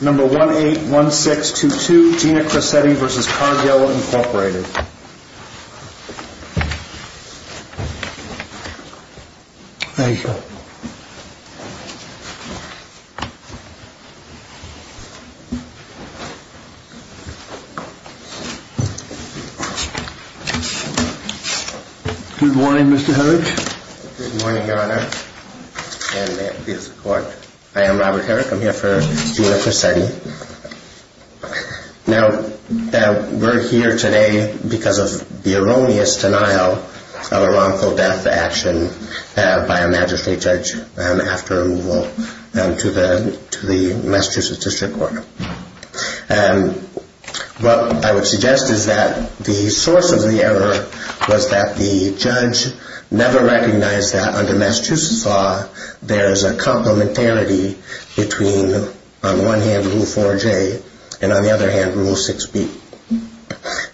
Number 181622, Gina Cressetti v. Cargill, Incorporated Thank you Good morning, Mr. Herrick Good morning, Your Honor And may it please the Court I am Robert Herrick, I'm here for Gina Cressetti Now, we're here today because of the erroneous denial of a wrongful death action by a magistrate judge after removal to the Massachusetts District Court What I would suggest is that the source of the error was that the judge never recognized that under Massachusetts law there is a complementarity between, on one hand, Rule 4J and on the other hand, Rule 6B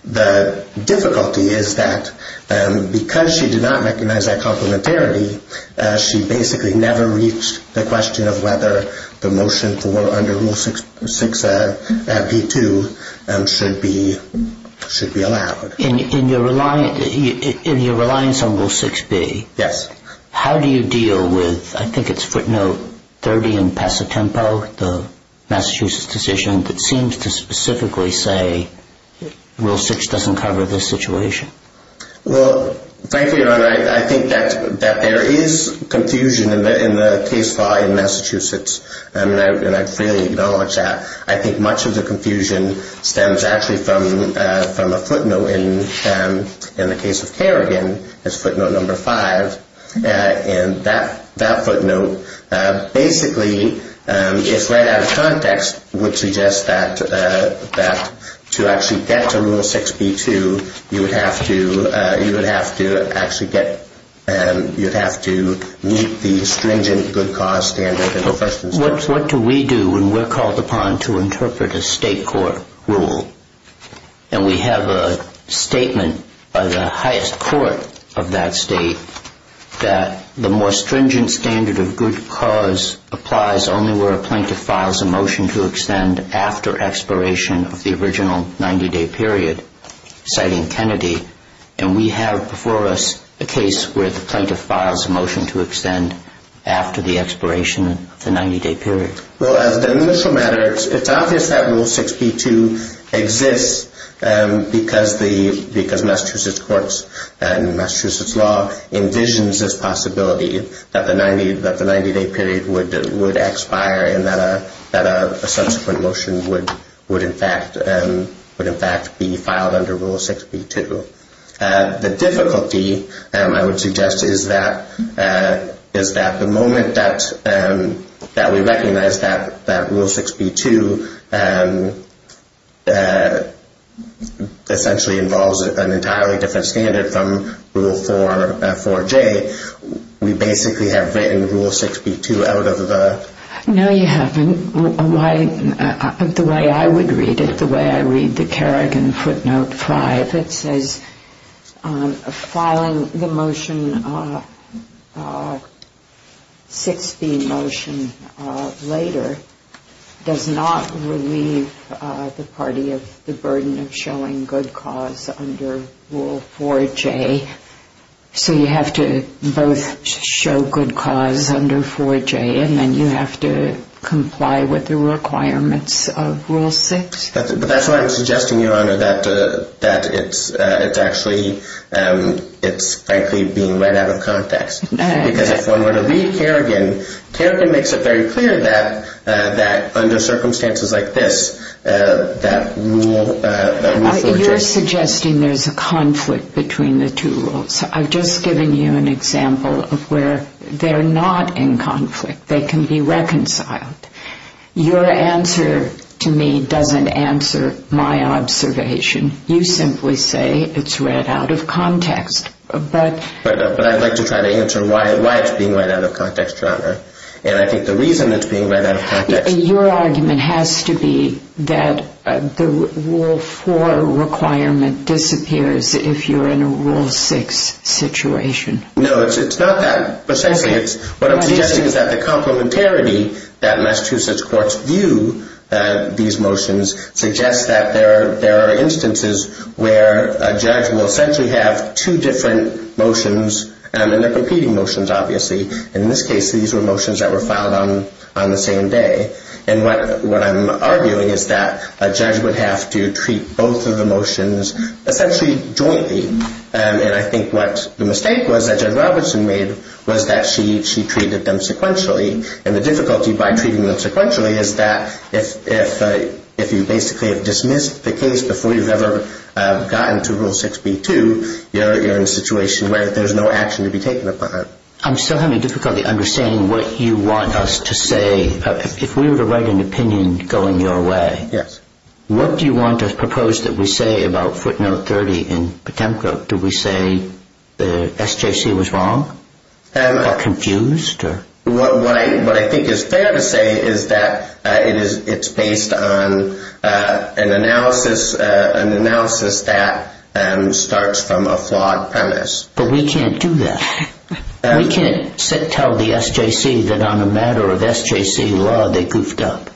The difficulty is that because she did not recognize that complementarity she basically never reached the question of whether the motion for, under Rule 6B2 should be allowed In your reliance on Rule 6B Yes How do you deal with, I think it's footnote 30 in Passatempo the Massachusetts decision that seems to specifically say Rule 6 doesn't cover this situation Well, thank you, Your Honor I think that there is confusion in the case law in Massachusetts and I freely acknowledge that I think much of the confusion stems actually from a footnote in the case of Kerrigan, it's footnote number 5 and that footnote basically, if read out of context would suggest that to actually get to Rule 6B2 you would have to meet the stringent good cause standard What do we do when we're called upon to interpret a state court rule? And we have a statement by the highest court of that state that the more stringent standard of good cause applies only where a plaintiff files a motion to extend after expiration of the original 90-day period, citing Kennedy and we have before us a case where the plaintiff files a motion to extend after the expiration of the 90-day period Well, as an initial matter, it's obvious that Rule 6B2 exists because Massachusetts courts and Massachusetts law envisions this possibility that the 90-day period would expire and that a subsequent motion would in fact be filed under Rule 6B2 The difficulty, I would suggest, is that the moment that we recognize that Rule 6B2 essentially involves an entirely different standard from Rule 4J, we basically have written Rule 6B2 out of the... No, you haven't. The way I would read it, the way I read the Kerrigan footnote 5 it says filing the motion, 6B motion later does not relieve the party of the burden of showing good cause under Rule 4J so you have to both show good cause under 4J and then you have to comply with the requirements of Rule 6 But that's why I'm suggesting, Your Honor, that it's actually being read out of context because if one were to read Kerrigan, Kerrigan makes it very clear that under circumstances like this, that Rule 4J... You're suggesting there's a conflict between the two rules I've just given you an example of where they're not in conflict, they can be reconciled Your answer to me doesn't answer my observation You simply say it's read out of context But I'd like to try to answer why it's being read out of context, Your Honor And I think the reason it's being read out of context... Your argument has to be that the Rule 4 requirement disappears if you're in a Rule 6 situation No, it's not that... What I'm suggesting is that the complementarity that Massachusetts courts view these motions suggests that there are instances where a judge will essentially have two different motions and they're competing motions, obviously In this case, these were motions that were filed on the same day And what I'm arguing is that a judge would have to treat both of the motions essentially jointly And I think what the mistake was that Judge Robertson made was that she treated them sequentially And the difficulty by treating them sequentially is that if you basically have dismissed the case before you've ever gotten to Rule 6b-2 you're in a situation where there's no action to be taken upon it I'm still having difficulty understanding what you want us to say If we were to write an opinion going your way What do you want to propose that we say about footnote 30 in Potemko? Do we say the SJC was wrong? Or confused? What I think is fair to say is that it's based on an analysis that starts from a flawed premise But we can't do that We can't tell the SJC that on a matter of SJC law they goofed up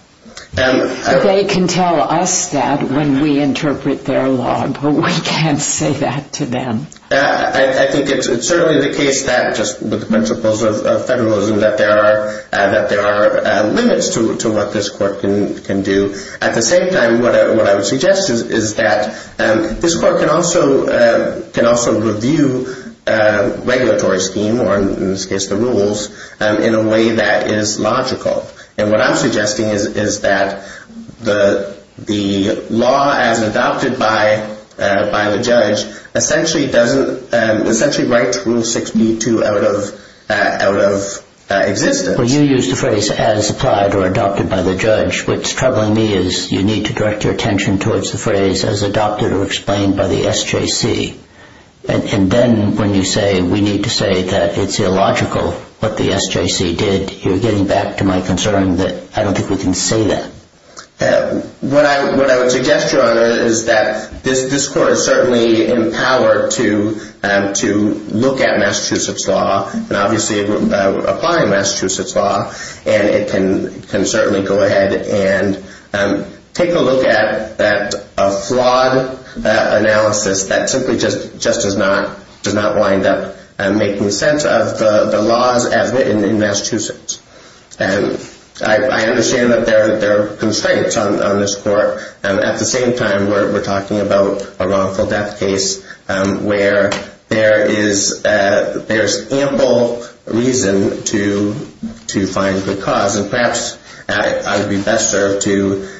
They can tell us that when we interpret their law But we can't say that to them I think it's certainly the case that just with the principles of federalism that there are limits to what this court can do At the same time, what I would suggest is that this court can also review regulatory scheme or in this case the rules in a way that is logical And what I'm suggesting is that the law as adopted by the judge essentially writes Rule 6b-2 out of existence Well you used the phrase as applied or adopted by the judge What's troubling me is you need to direct your attention towards the phrase as adopted or explained by the SJC And then when you say we need to say that it's illogical what the SJC did You're getting back to my concern that I don't think we can say that What I would suggest, Your Honor, is that this court is certainly empowered to look at Massachusetts law and obviously apply Massachusetts law And it can certainly go ahead and take a look at a flawed analysis that simply just does not wind up making sense of the laws as written in Massachusetts I understand that there are constraints on this court At the same time, we're talking about a wrongful death case where there is ample reason to find good cause And perhaps I would be best served to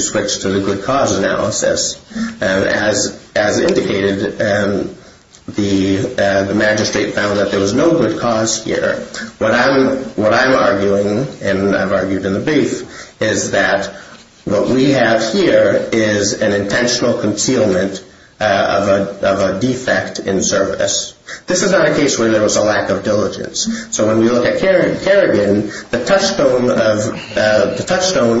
switch to the good cause analysis As indicated, the magistrate found that there was no good cause here What I'm arguing, and I've argued in the brief, is that what we have here is an intentional concealment of a defect in service This is not a case where there was a lack of diligence So when we look at Kerrigan, the touchstone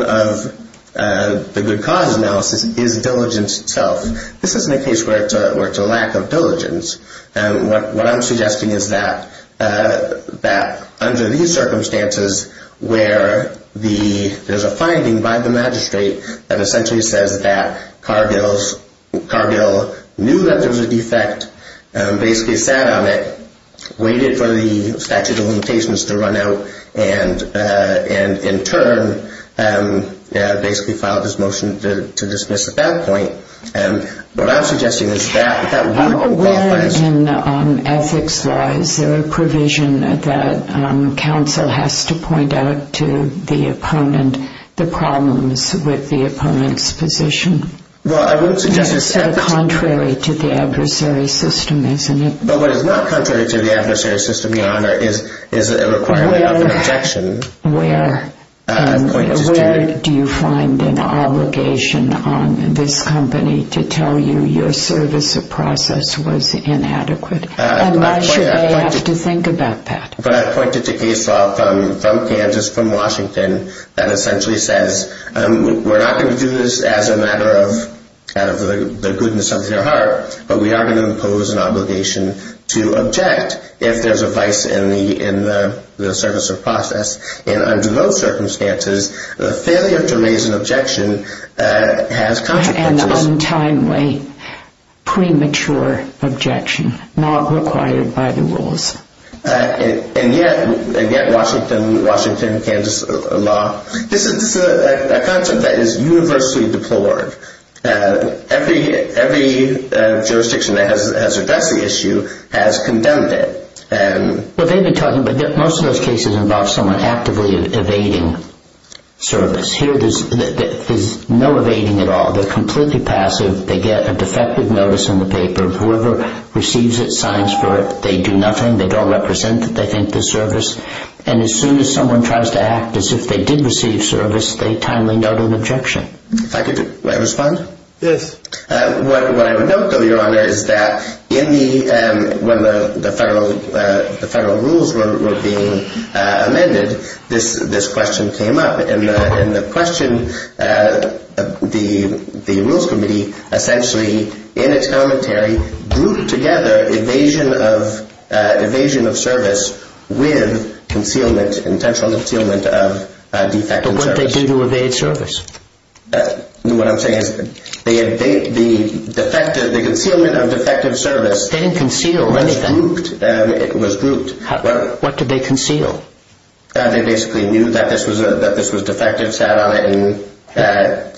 of the good cause analysis is diligence itself This isn't a case where it's a lack of diligence What I'm suggesting is that under these circumstances where there's a finding by the magistrate that essentially says that Cargill knew that there was a defect, basically sat on it waited for the statute of limitations to run out and in turn basically filed his motion to dismiss at that point What I'm suggesting is that that wouldn't qualify as... Where in ethics law is there a provision that counsel has to point out to the opponent the problems with the opponent's position? Well, I wouldn't suggest... It's so contrary to the adversary system, isn't it? But what is not contrary to the adversary system, Your Honor, is a requirement of objection Where do you find an obligation on this company to tell you your service or process was inadequate? And why should they have to think about that? But I've pointed to case law from Kansas, from Washington, that essentially says we're not going to do this as a matter of the goodness of their heart but we are going to impose an obligation to object if there's a vice in the service or process And under those circumstances, the failure to raise an objection has consequences An untimely, premature objection, not required by the rules And yet, Washington, Kansas law, this is a concept that is universally deplored Every jurisdiction that has addressed the issue has condemned it But they've been talking... Most of those cases involve someone actively evading service Here, there's no evading at all They're completely passive They get a defective notice in the paper Whoever receives it signs for it They do nothing They don't represent that they think the service... And as soon as someone tries to act as if they did receive service they timely note an objection If I could respond? Yes What I would note, though, Your Honor, is that when the federal rules were being amended this question came up And the question... The Rules Committee, essentially, in its commentary intentional concealment of defective service But what did they do to evade service? What I'm saying is the concealment of defective service They didn't conceal anything It was grouped What did they conceal? They basically knew that this was defective sat on it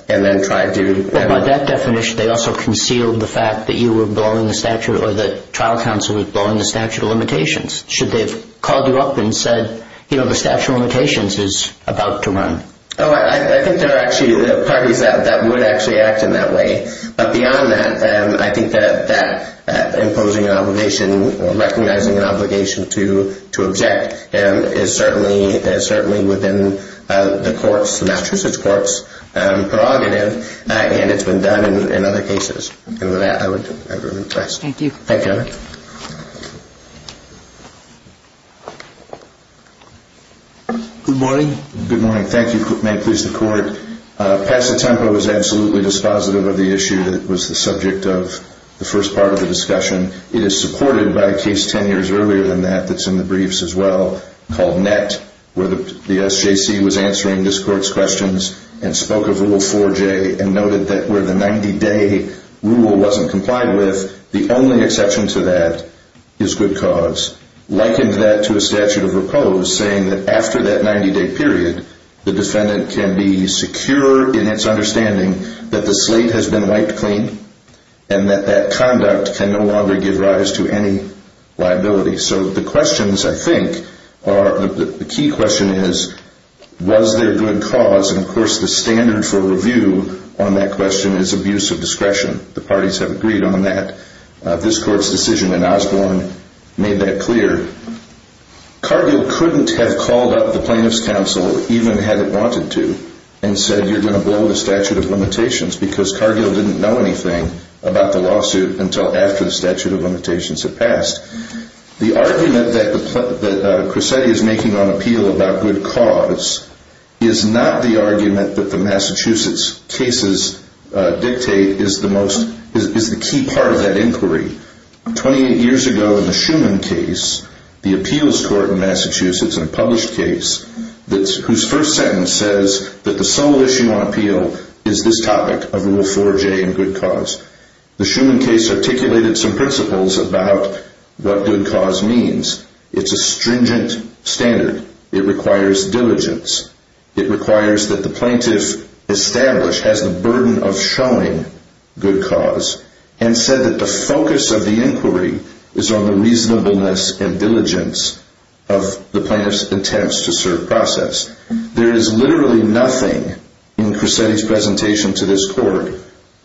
and then tried to... By that definition, they also concealed the fact that you were blowing the statute or the trial counsel was blowing the statute of limitations Should they have called you up and said the statute of limitations is about to run? I think there are actually parties that would actually act in that way But beyond that, I think that imposing an obligation or recognizing an obligation to object is certainly within the court's... the Massachusetts court's prerogative And it's been done in other cases And with that, I would... Thank you Thank you Good morning Good morning. Thank you. May it please the court Pass a Tempo is absolutely dispositive of the issue that was the subject of the first part of the discussion It is supported by a case ten years earlier than that that's in the briefs as well called NET where the SJC was answering this court's questions and spoke of Rule 4J and noted that where the 90-day rule wasn't complied with the only exception to that is good cause likened that to a statute of repose saying that after that 90-day period the defendant can be secure in its understanding that the slate has been wiped clean and that that conduct can no longer give rise to any liability So the questions, I think, are... The key question is Was there good cause? And of course, the standard for review on that question is abuse of discretion The parties have agreed on that This court's decision in Osborne made that clear Cargill couldn't have called up the Plaintiff's Council even had it wanted to and said you're going to blow the statute of limitations because Cargill didn't know anything about the lawsuit until after the statute of limitations had passed The argument that that Cresetti is making on appeal about good cause is not the argument that the Massachusetts cases dictate is the most... is the key part of that inquiry 28 years ago in the Schuman case the appeals court in Massachusetts in a published case whose first sentence says that the sole issue on appeal is this topic of Rule 4J and good cause The Schuman case articulated some principles about what good cause means It's a stringent standard It requires diligence It requires that the plaintiff established has the burden of showing good cause and said that the focus of the inquiry is on the reasonableness and diligence of the plaintiff's attempts to serve process There is literally nothing in Cresetti's presentation to this court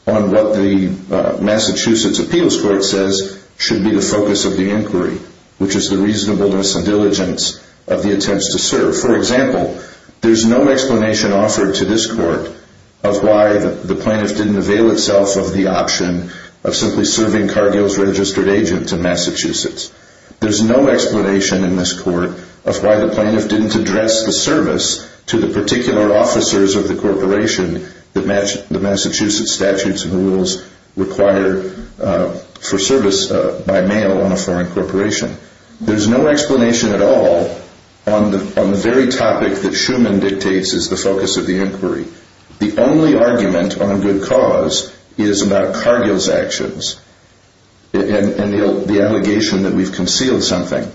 on what the Massachusetts appeals court says should be the focus of the inquiry which is the reasonableness and diligence of the attempts to serve For example There's no explanation offered to this court of why the plaintiff didn't avail itself of the option of simply serving Cargill's registered agent to Massachusetts There's no explanation in this court of why the plaintiff didn't address the service to the particular officers of the corporation that the Massachusetts statutes and rules require for service by mail on a foreign corporation There's no explanation at all on the very topic that Schuman dictates is the focus of the inquiry The only argument on good cause is about Cargill's actions and the allegation that we've concealed something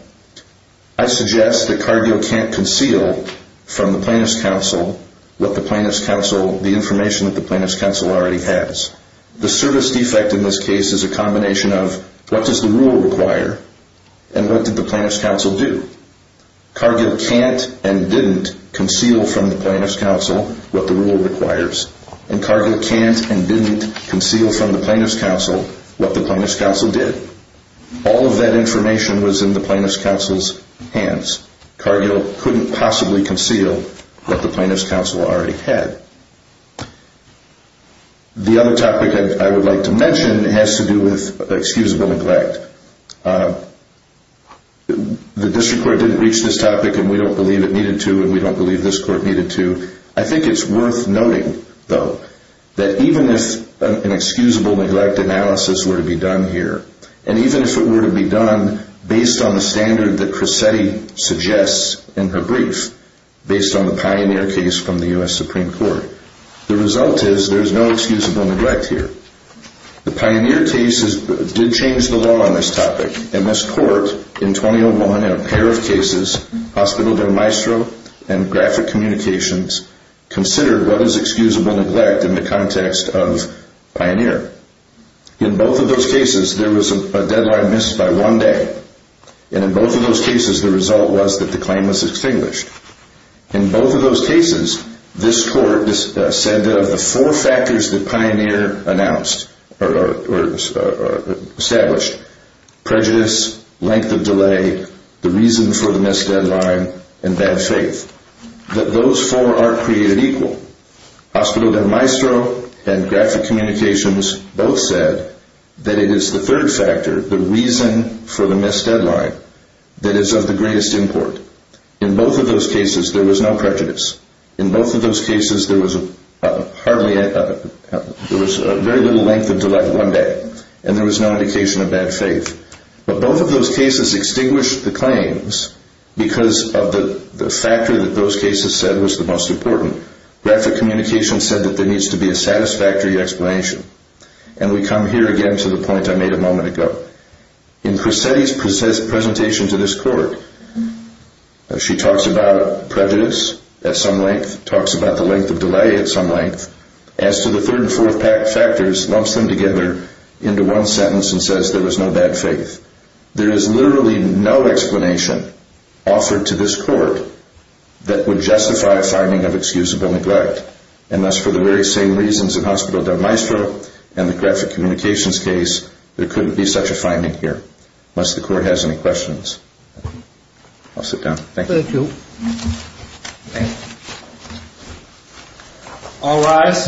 I suggest that Cargill can't conceal from the plaintiff's counsel what the plaintiff's counsel the information that the plaintiff's counsel already has The service defect in this case is a combination of what does the rule require and what did the plaintiff's counsel do Cargill can't and didn't conceal from the plaintiff's counsel what the rule requires and Cargill can't and didn't conceal from the plaintiff's counsel what the plaintiff's counsel did All of that information was in the plaintiff's counsel's hands Cargill couldn't possibly conceal what the plaintiff's counsel already had The other topic I would like to mention has to do with excusable neglect The district court didn't reach this topic and we don't believe it needed to and we don't believe this court needed to I think it's worth noting, though that even if an excusable neglect analysis were to be done here and even if it were to be done based on the standard that Cresetti suggests in her brief based on the Pioneer case from the U.S. Supreme Court the result is there is no excusable neglect here The Pioneer case did change the law on this topic In this court, in 2001 in a pair of cases hospital-to-maestro and graphic communications considered what is excusable neglect in the context of Pioneer In both of those cases there was a deadline missed by one day and in both of those cases the result was that the claim was extinguished In both of those cases this court said that of the four factors that Pioneer established prejudice, length of delay the reason for the missed deadline and bad faith that those four are created equal hospital-to-maestro and graphic communications both said that it is the third factor the reason for the missed deadline that is of the greatest import In both of those cases there was no prejudice In both of those cases there was a very little length of delay one day and there was no indication of bad faith But both of those cases extinguished the claims because of the factor that those cases said was the most important Graphic communications said that there needs to be a satisfactory explanation and we come here again to the point I made a moment ago In Presetti's presentation to this court she talks about prejudice at some length talks about the length of delay at some length as to the third and fourth factors lumps them together into one sentence and says there was no bad faith There is literally no explanation offered to this court that would justify a finding of excusable neglect and thus for the very same reasons in hospital-to-maestro and the graphic communications case there couldn't be such a finding here I'll sit down, thank you Thank you Thank you All rise